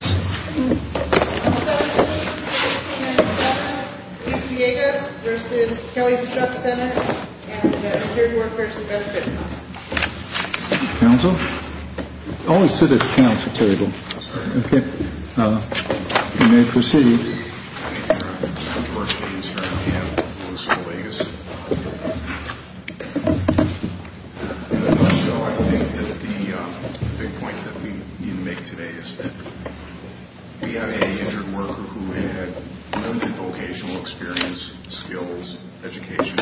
and the Interior Workers and Benefits Council. Council? Always sit at the council table. Okay. You may proceed. I'm George B. and I'm here on behalf of Luce Velegas. So I think that the big point that we need to make today is that we have an injured worker who had limited vocational experience, skills, education.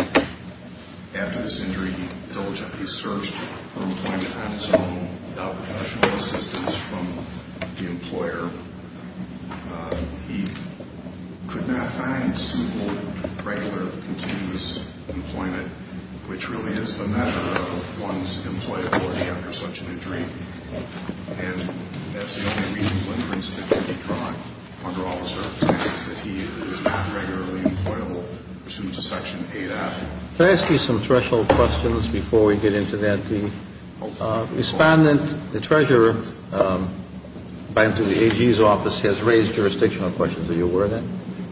After this injury, he diligently searched for employment on his own without professional assistance from the employer. He could not find simple, regular, continuous employment, which really is the measure of one's employability after such an injury. And as the only reasonable inference that can be drawn under all circumstances, that he is not regularly employable pursuant to Section 8A. Could I ask you some threshold questions before we get into that? The respondent, the treasurer, by and through the AG's office, has raised jurisdictional questions. Are you aware of that?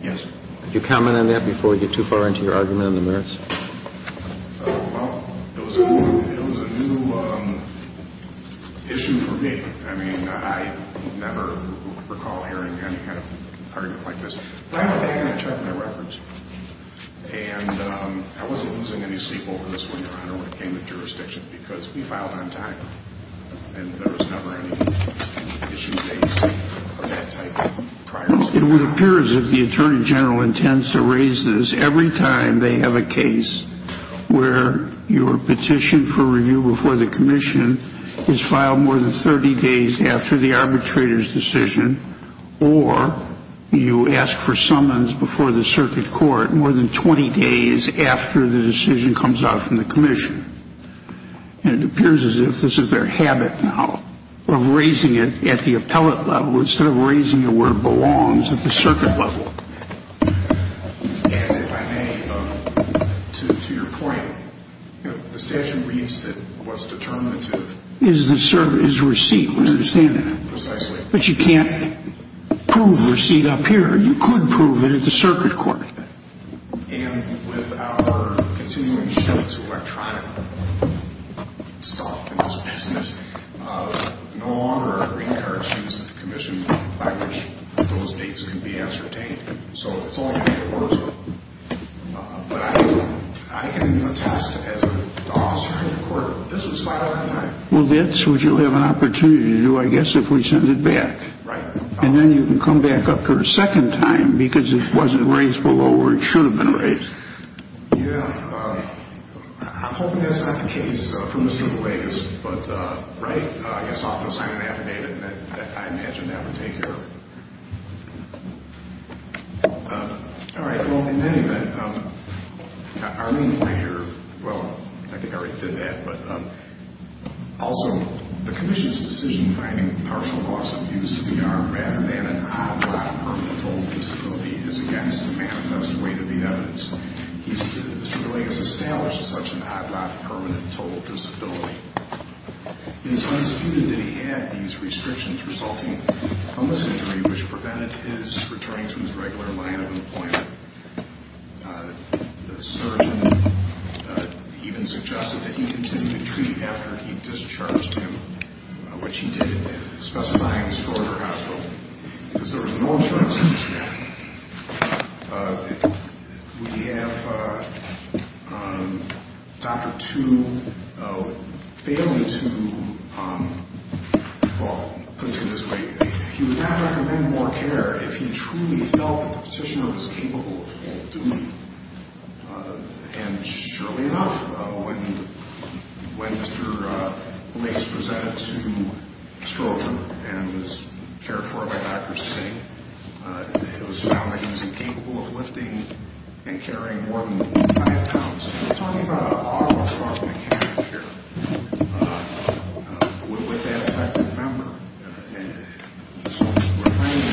Yes. Could you comment on that before we get too far into your argument in the minutes? Well, it was a new issue for me. I mean, I never recall hearing any kind of argument like this. And I wasn't losing any sleep over this one, Your Honor, when it came to jurisdiction because we filed on time. And there was never any issue based on that type prior. It would appear as if the Attorney General intends to raise this every time they have a case where your petition for review before the commission is filed more than 30 days after the arbitrator's decision, or you ask for summons before the circuit court more than 20 days after the decision comes out from the commission. And it appears as if this is their habit now of raising it at the appellate level instead of raising it where it belongs at the circuit level. And if I may, to your point, the statute reads that what's determinative is the receipt. I understand that. Precisely. But you can't prove a receipt up here. You could prove it at the circuit court. And with our continuing shift to electronic stuff in this business, no longer are green cards used at the commission by which those dates can be ascertained. So it's all made for us. But I can attest as an officer in the court, this was filed on time. Well, that's what you'll have an opportunity to do, I guess, if we send it back. Right. And then you can come back up for a second time because it wasn't raised below where it should have been raised. Yeah. I'm hoping that's not the case for Mr. DeLay, but, right? I guess I'll have to sign an affidavit, and I imagine that would take care of it. All right. Well, in any event, our main point here, well, I think I already did that, but also the commission's decision finding partial loss of use of the arm rather than an odd lot of permanent total disability is against the manifest weight of the evidence. Mr. DeLay has established such an odd lot of permanent total disability. It is undisputed that he had these restrictions resulting from this injury which prevented his returning to his regular line of employment. The surgeon even suggested that he continue to treat after he discharged him, which he did, specifying the score of her hospital. Because there was an orange line of students here. We have Dr. Tu failing to, well, put it to you this way, he would not recommend more care if he truly felt that the petitioner was capable of doing it. And surely enough, when Mr. Lace presented to Strozier and was cared for by Dr. Singh, it was found that he was incapable of lifting and carrying more than five pounds. We're talking about an auto shock mechanic here with that affected member. And so we're finding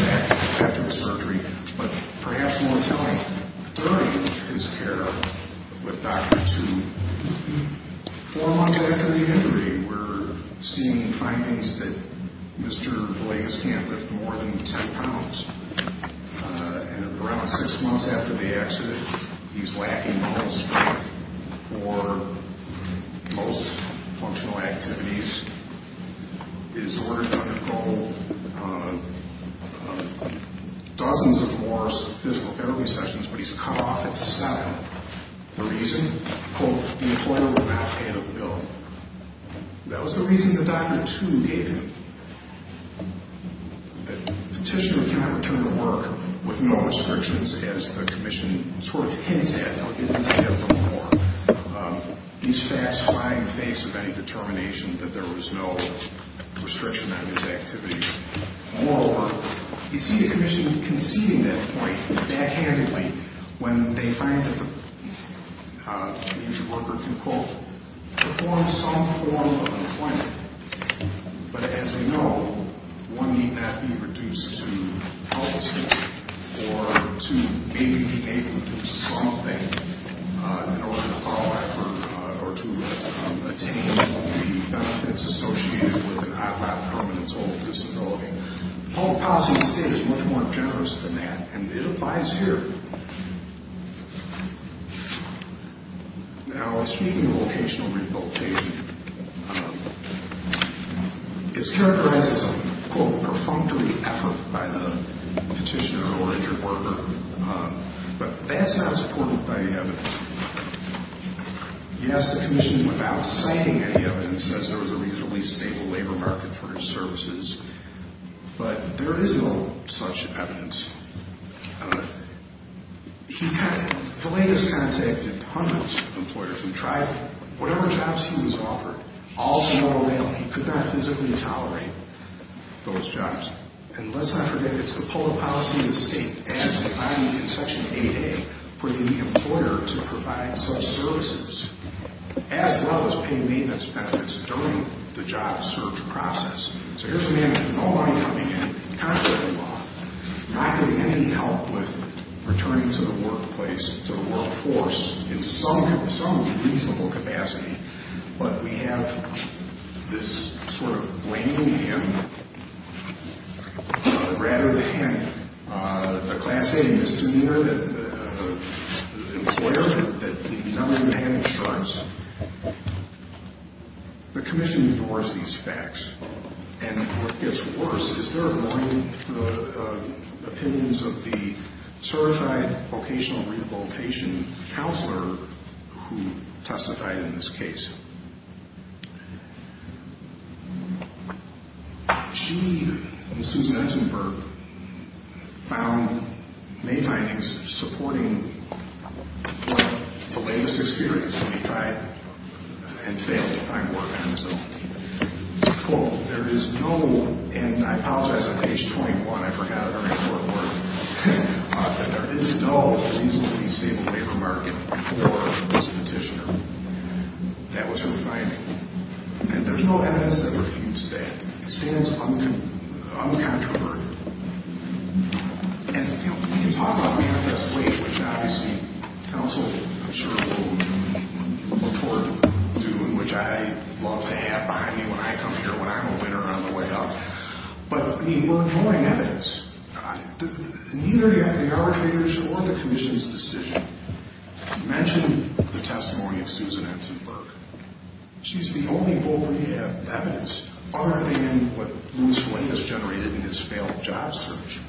that after the surgery, but perhaps more telling, during his care with Dr. Tu, four months after the injury, we're seeing findings that Mr. Lace can't lift more than 10 pounds. And around six months after the accident, he's lacking the whole strength for most functional activities. He's ordered to undergo dozens of more physical therapy sessions, but he's cut off at seven. The reason? Quote, the employer will not pay the bill. That was the reason that Dr. Tu gave him. The petitioner can't return to work with no restrictions, as the commission sort of hints at. I'll get into that a little more. He's fast flying the face of any determination that there was no restriction on his activities. Moreover, you see the commission conceding that point backhandedly when they find that the injured worker can, quote, perform some form of employment. But as we know, one need not be reduced to policy or to maybe be able to do something in order to follow up or to attain the benefits associated with an ILAP, permanence of disability. Public policy instead is much more generous than that, and it applies here. Now, speaking of vocational rehabilitation, it's characterized as a, quote, perfunctory effort by the petitioner or injured worker, but that's not supported by the evidence. Yes, the commission, without citing any evidence, says there was a reasonably stable labor market for his services, but there is no such evidence. The latest contact of hundreds of employers who tried whatever jobs he was offered, all snow or hail, he could not physically tolerate those jobs. And let's not forget, it's the public policy of the state, as in section 8A, for the employer to provide such services, as well as pay maintenance benefits during the job search process. So here's a man with no money coming in, contrary to the law, not getting any help with returning to the workplace, to the workforce, in some reasonable capacity, but we have this sort of blaming him rather than the class A misdemeanor that the employer that he's under the man struts. The commission ignores these facts, and what gets worse is they're ignoring the opinions of the certified vocational rehabilitation counselor who testified in this case. Chief and Susan Entenberg found main findings supporting the latest experience when he tried and failed to find work on his own. Quote, there is no, and I apologize on page 21, I forgot her name for a moment, that there is no reasonably stable labor market for this petitioner. That was her finding. And there's no evidence that refutes that. It stands uncontroverted. And, you know, we can talk about manifest wage, which obviously counsel, I'm sure, will look forward to doing, which I love to have behind me when I come here, when I'm a winner on the way up. But, I mean, we're ignoring evidence. Neither the arbitrators or the commission's decision mentioned the testimony of Susan Entenberg. She's the only voter to have evidence other than what Louis Flay has generated in his failed job search.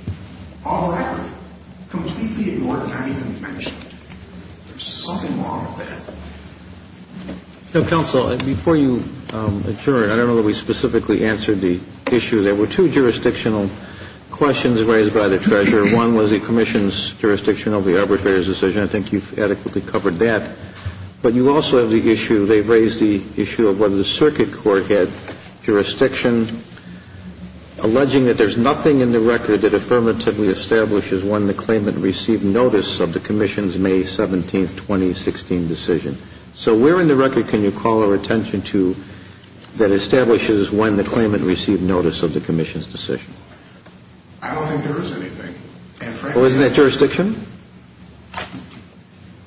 All that, completely ignored, not even mentioned. There's something wrong with that. Now, counsel, before you adjourn, I don't know that we specifically answered the issue. There were two jurisdictional questions raised by the treasurer. One was the commission's jurisdiction over the arbitrator's decision. I think you've adequately covered that. But you also have the issue, they've raised the issue of whether the circuit court had jurisdiction, alleging that there's nothing in the record that affirmatively establishes when the claimant received notice of the commission's May 17, 2016, decision. So where in the record can you call our attention to that establishes when the claimant received notice of the commission's decision? I don't think there is anything. Well, isn't that jurisdiction?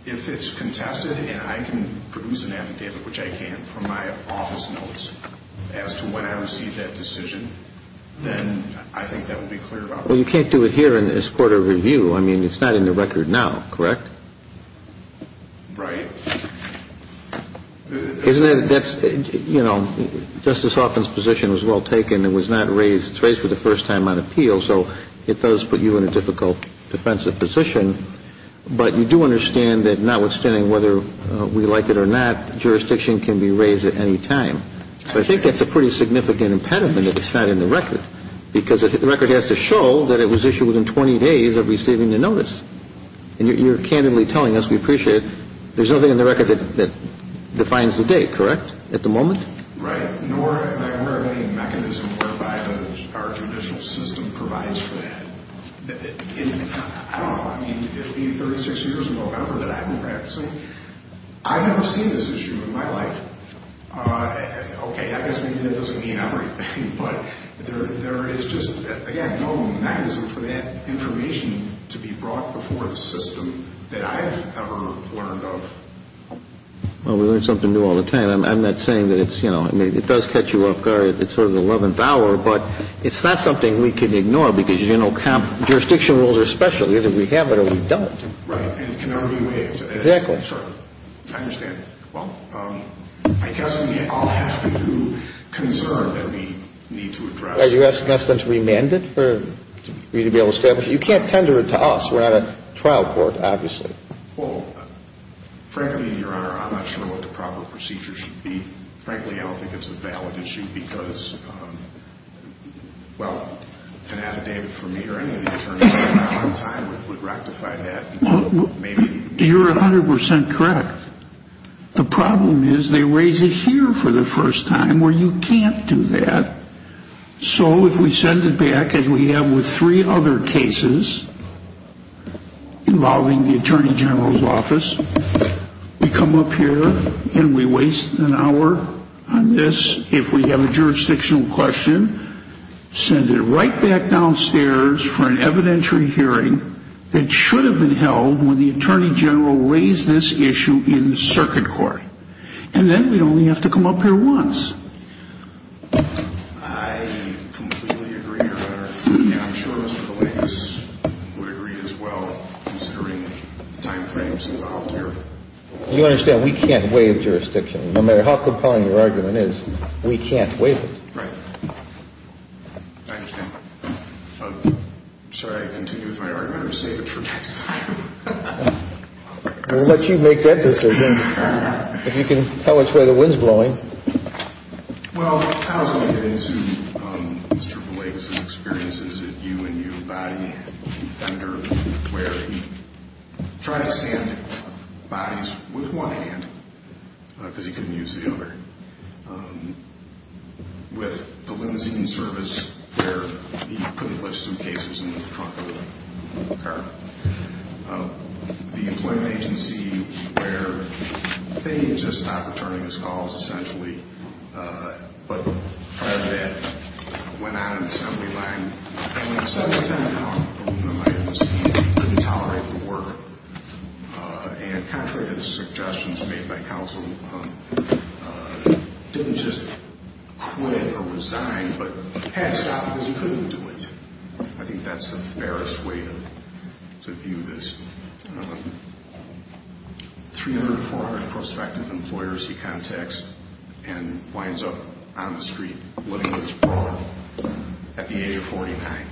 If it's contested and I can produce an affidavit, which I can from my office notes, as to when I received that decision, then I think that would be clear to us. Well, you can't do it here in this court of review. I mean, it's not in the record now, correct? Right. Isn't that, you know, Justice Hoffman's position was well taken. It was not raised, it's raised for the first time on appeal. So it does put you in a difficult defensive position. But you do understand that notwithstanding whether we like it or not, jurisdiction can be raised at any time. But I think that's a pretty significant impediment that it's not in the record, because the record has to show that it was issued within 20 days of receiving the notice. And you're candidly telling us we appreciate it. There's nothing in the record that defines the date, correct, at the moment? Right. Nor am I aware of any mechanism whereby our judicial system provides for that. I don't know. I mean, it would be 36 years in November that I'd be practicing. I've never seen this issue in my life. Okay, I guess that doesn't mean everything, but there is just, again, no mechanism for that information to be brought before the system that I have ever learned of. Well, we learn something new all the time. I'm not saying that it's, you know, I mean, it does catch you off guard at sort of the 11th hour, but it's not something we can ignore because, you know, jurisdiction rules are special. Either we have it or we don't. Right. And it can never be waived. Exactly. I understand. Well, I guess we all have a new concern that we need to address. Are you asking us then to remand it for you to be able to establish it? You can't tender it to us. We're not a trial court, obviously. Well, frankly, Your Honor, I'm not sure what the proper procedure should be. Frankly, I don't think it's a valid issue because, well, an additive for me or any of the attorneys on time would rectify that. You're 100% correct. The problem is they raise it here for the first time where you can't do that. So if we send it back, as we have with three other cases involving the Attorney General's office, we come up here and we waste an hour on this, if we have a jurisdictional question, send it right back downstairs for an evidentiary hearing that should have been held when the Attorney General raised this issue in circuit court. And then we'd only have to come up here once. I completely agree, Your Honor. I'm sure Mr. Villegas would agree as well, considering the timeframes involved here. You understand we can't waive jurisdiction. No matter how compelling your argument is, we can't waive it. Right. I understand. Sorry, I continue with my argument. I'm going to save it for next time. We'll let you make that decision if you can tell us where the wind's blowing. Well, I was looking into Mr. Villegas' experiences at U&U body vendor where he tried to send bodies with one hand because he couldn't use the other. With the limousine service where he couldn't lift suitcases in the trunk of the car. The employment agency where they just stopped returning his calls essentially, but rather than that, went out on an assembly line and spent time on aluminum items and couldn't tolerate the work. And contrary to the suggestions made by counsel, didn't just quit or resign but had to stop because he couldn't do it. I think that's the fairest way to view this. Three hundred, four hundred prospective employers he contacts and winds up on the street living with his bra at the age of 49.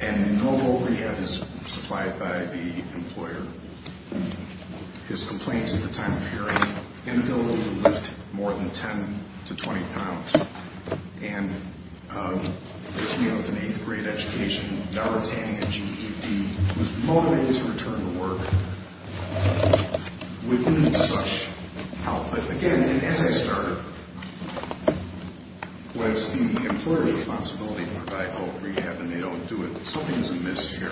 And no overhead is supplied by the employer. His complaints at the time of hearing individually lift more than 10 to 20 pounds. And as we know from eighth grade education, never attaining a GED whose motive is to return to work would need such help. But again, an anti-starter was the employer's responsibility to provide help, rehab, and they don't do it. Something is amiss here.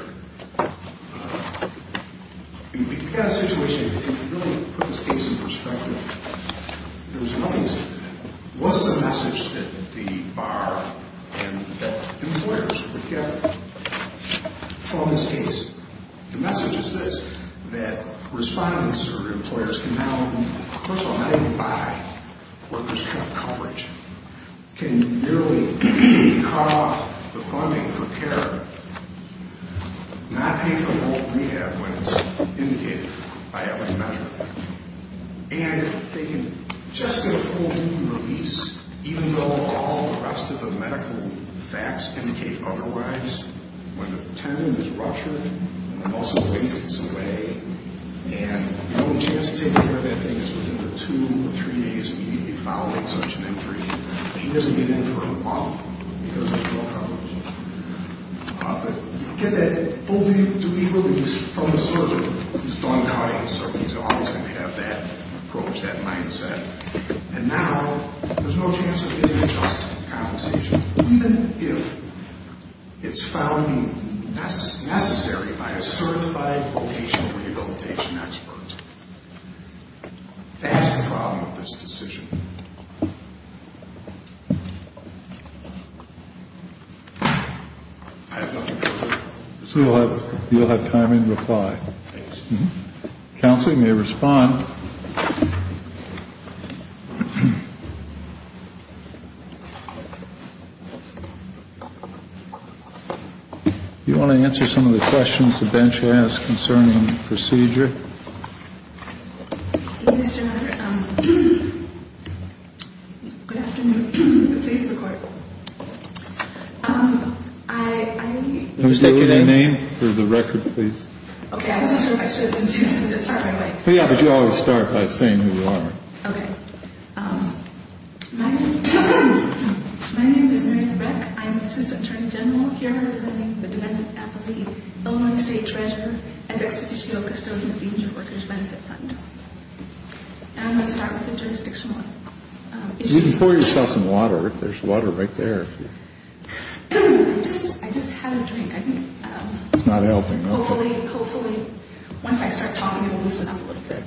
In that situation, if you really put this case in perspective, there was nothing significant. What's the message that the bar and the employers would get from this case? The message is this, that respondents or employers can now, first of all, not even buy workers' coverage, can nearly cut off the funding for care, not pay for the whole rehab when it's indicated by every measure, and if they can just get a full duty release, even though all the rest of the medical facts indicate otherwise, when the tendon is ruptured and also wastes away, and the only chance to take care of that thing is within the two or three days immediately following such an entry. He doesn't get in for a month because there's no coverage. But get that full duty release from the surgeon who's done cutting. Surgeons are always going to have that approach, that mindset. And now there's no chance of getting a just compensation, even if it's found necessary by a certified vocational rehabilitation expert. That's the problem with this decision. I have nothing further. So you'll have time in reply. Counselor, you may respond. Do you want to answer some of the questions the bench has concerning the procedure? Yes, Your Honor. Good afternoon. Please, the Court. Who's taking that name? For the record, please. Okay. I'm not sure if I should, since you're going to start my way. Yeah, but you always start by saying who you are. Okay. My name is Marietta Breck. I'm assistant attorney general here representing the defendant, Illinois State Treasurer as ex officio custodian of the Injured Workers Benefit Fund. And I'm going to start with a jurisdictional issue. You can pour yourself some water. There's water right there. I just had a drink. It's not helping. Hopefully, once I start talking, it will loosen up a little bit.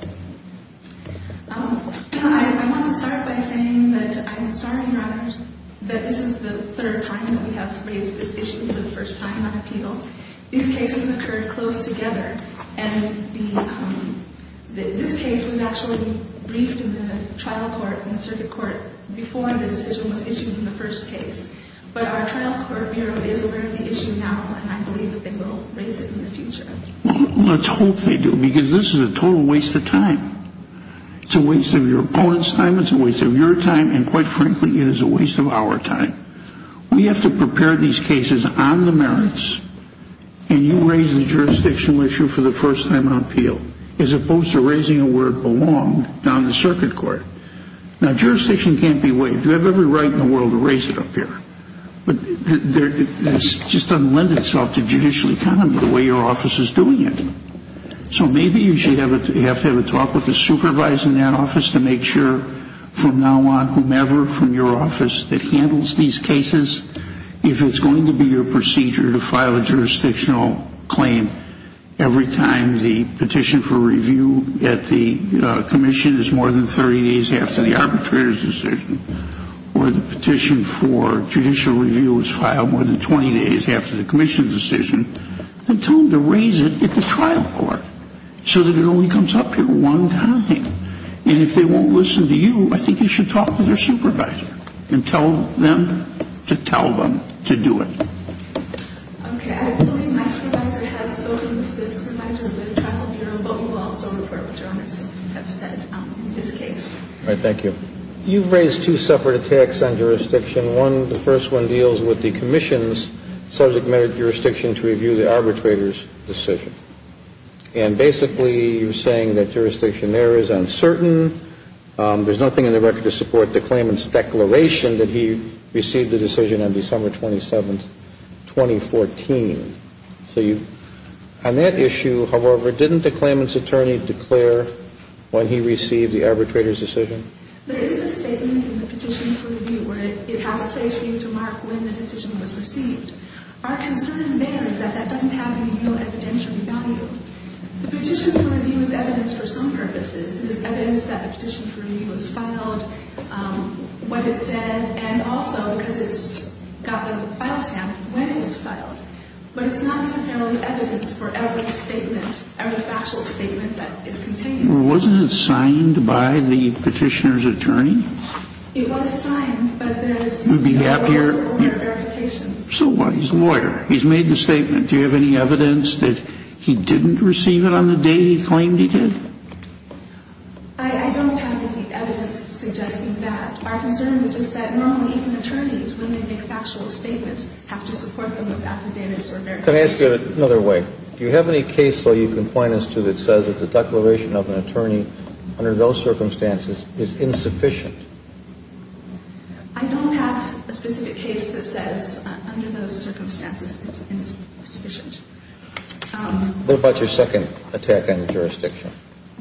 I want to start by saying that I'm sorry, Your Honors, that this is the third time that we have raised this issue for the first time on appeal. These cases occurred close together, and this case was actually briefed in the trial court and the circuit court before the decision was issued in the first case. But our trial court bureau is aware of the issue now, and I believe that they will raise it in the future. Well, let's hope they do, because this is a total waste of time. It's a waste of your opponent's time, it's a waste of your time, and quite frankly, it is a waste of our time. We have to prepare these cases on the merits, and you raise the jurisdictional issue for the first time on appeal, as opposed to raising it where it belonged, down in the circuit court. Now, jurisdiction can't be waived. You have every right in the world to raise it up here, but it just doesn't lend itself to judicial economy the way your office is doing it. So maybe you should have to have a talk with the supervisor in that office to make sure from now on whomever from your office that handles these cases, if it's going to be your procedure to file a jurisdictional claim every time the petition for review at the commission is more than 30 days after the arbitrator's decision, or the petition for judicial review is filed more than 20 days after the commission's decision, then tell them to raise it at the trial court so that it only comes up here one time. And if they won't listen to you, I think you should talk to their supervisor and tell them to tell them to do it. Okay. I believe my supervisor has spoken to the supervisor of the Tribal Bureau, but we will also report what Your Honors have said in this case. All right. Thank you. You've raised two separate attacks on jurisdiction. One, the first one deals with the commission's subject matter jurisdiction to review the arbitrator's decision. And basically you're saying that jurisdiction there is uncertain. There's nothing in the record to support the claimant's declaration that he received the decision on December 27, 2014. So on that issue, however, didn't the claimant's attorney declare when he received the arbitrator's decision? There is a statement in the petition for review where it has a place for you to mark when the decision was received. Our concern there is that that doesn't have any real evidential value. The petition for review is evidence for some purposes. It is evidence that the petition for review was filed, what it said, and also because it's got a file stamp when it was filed. But it's not necessarily evidence for every statement, every factual statement that is contained. Well, wasn't it signed by the petitioner's attorney? It was signed, but there is no formal verification. So what? He's a lawyer. He's made the statement. Do you have any evidence that he didn't receive it on the day he claimed he did? I don't have any evidence suggesting that. Our concern is just that normally even attorneys, when they make factual statements, have to support them with affidavits or merits. Can I ask you another way? Do you have any case law you can point us to that says that the declaration of an attorney under those circumstances is insufficient? I don't have a specific case that says under those circumstances it's insufficient. What about your second attack on jurisdiction?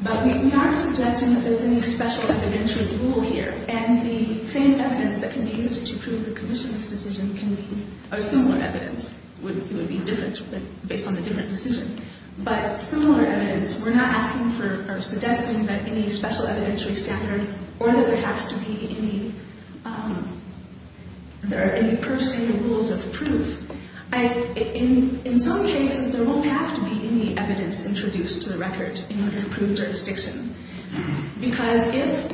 But we are suggesting that there's any special evidentiary rule here. And the same evidence that can be used to prove the commission's decision can be a similar evidence. It would be different based on the different decision. But similar evidence, we're not asking for or suggesting that any special evidentiary standard or that there has to be any per se rules of proof. In some cases, there won't have to be any evidence introduced to the record in order to prove jurisdiction. Because if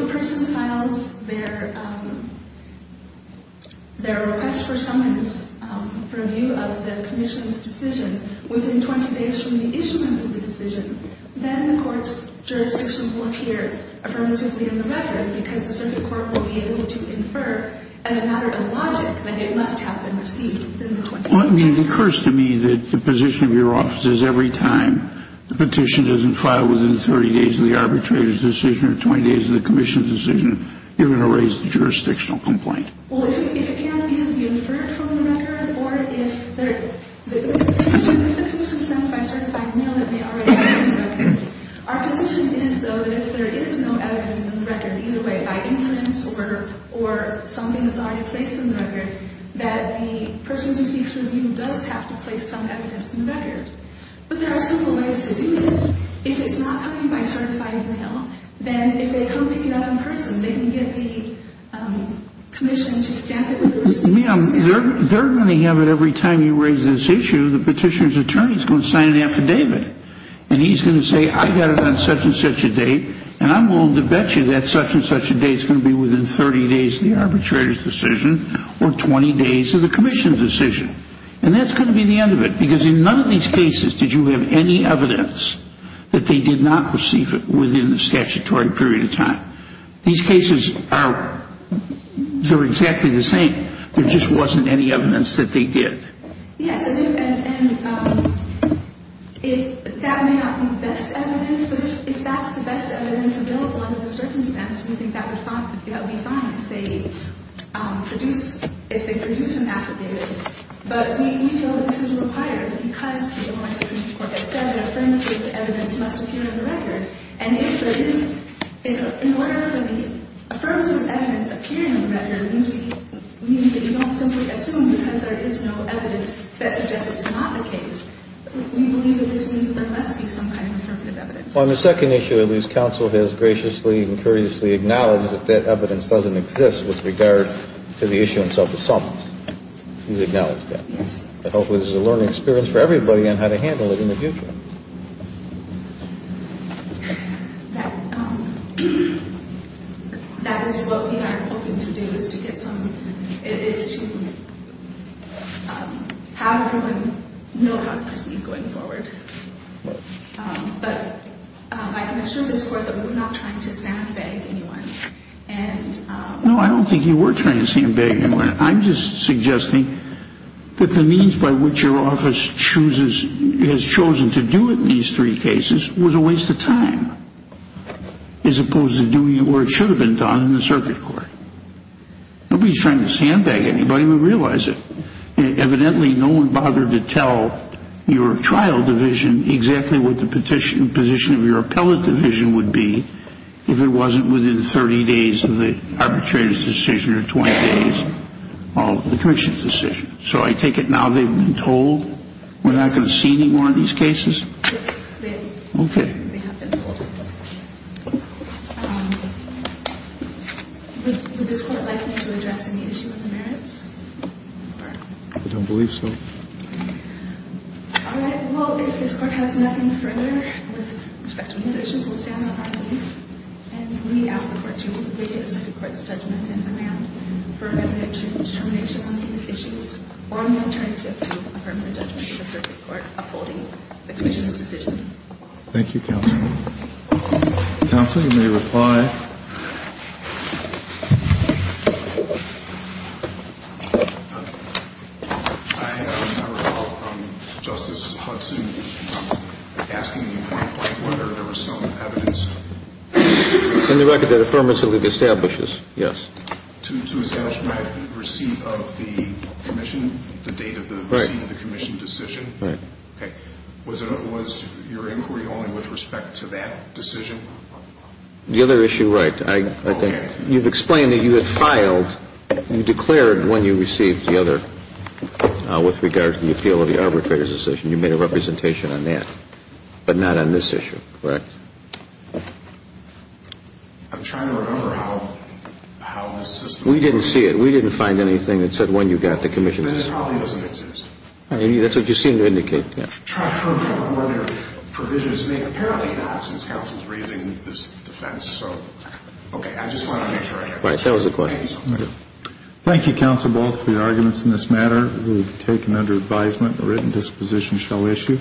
a person files their request for summons for review of the commission's decision within 20 days from the issuance of the decision, then the court's jurisdiction will appear affirmatively in the record because the circuit court will be able to infer as a matter of logic that it must have been received within the 20 days. It occurs to me that the position of your office is every time the petition doesn't file within 30 days of the arbitrator's decision or 20 days of the commission's decision, you're going to raise the jurisdictional complaint. Well, if it can't be inferred from the record or if the commission sends by certified mail that they already have it in the record, our position is, though, that if there is no evidence in the record, either by inference or something that's already placed in the record, that the person who seeks review does have to place some evidence in the record. But there are simple ways to do this. If it's not coming by certified mail, then if they come pick it up in person, they can get the commission to stamp it with a receipt. Ma'am, they're going to have it every time you raise this issue. The petitioner's attorney is going to sign an affidavit, and he's going to say, I got it on such and such a date, and I'm willing to bet you that such and such a date is going to be within 30 days of the arbitrator's decision or 20 days of the commission's decision. And that's going to be the end of it because in none of these cases did you have any evidence that they did not receive it within the statutory period of time. These cases are exactly the same. There just wasn't any evidence that they did. Yes. And if that may not be the best evidence, but if that's the best evidence available under the circumstance, we think that would be fine if they produce an affidavit. But we feel that this is required because the Ohio Supreme Court has said that affirmative evidence must appear in the record. And if there is, in order for the affirmative evidence appearing in the record, it means that you don't simply assume because there is no evidence that suggests it's not the case. We believe that this means that there must be some kind of affirmative evidence. Well, on the second issue, at least, counsel has graciously and courteously acknowledged that that evidence doesn't exist with regard to the issue in self-assault. He's acknowledged that. Yes. But hopefully this is a learning experience for everybody on how to handle it in the future. That is what we are hoping to do, is to get some, is to have everyone know how to proceed going forward. But I can assure this Court that we're not trying to soundbite anyone. And no, I don't think you were trying to soundbite anyone. I'm just suggesting that the means by which your office chooses, has chosen to do it in these three cases was a waste of time, as opposed to doing what should have been done in the circuit court. Nobody's trying to soundbite anybody. We realize it. Evidently, no one bothered to tell your trial division exactly what the position of your appellate division would be if it wasn't within 30 days of the arbitrator's decision, or 20 days of the commission's decision. So I take it now they've been told we're not going to see any more of these cases? Yes. Okay. They have been told. Would this Court like me to address any issue of the merits? I don't believe so. All right. Well, if this Court has nothing further with respect to these issues, we'll stand on our feet and we ask the Court to waive the circuit court's judgment and demand for a determination on these issues, or an alternative to a permanent judgment of the circuit court upholding the commission's decision. Thank you, Counsel. Counsel, you may reply. I recall Justice Hudson asking you to reply whether there was some evidence. In the record that Affirmative League establishes, yes. To establish my receipt of the commission, the date of the receipt of the commission decision? Right. Okay. Was your inquiry only with respect to that decision? The other issue, right. I think you've explained that you had filed, you declared when you received the other with regard to the appeal of the arbitrator's decision, you made a representation on that, but not on this issue, correct? I'm trying to remember how this system works. We didn't see it. We didn't find anything that said when you got the commission's decision. Then it probably doesn't exist. That's what you seem to indicate, yes. I'm trying to remember what your provisions make. Apparently not, since counsel's raising this defense. Okay. I just want to make sure I get it. Right. That was the question. Thank you, Counsel Ball, for your arguments in this matter. It will be taken under advisement. The written disposition shall issue.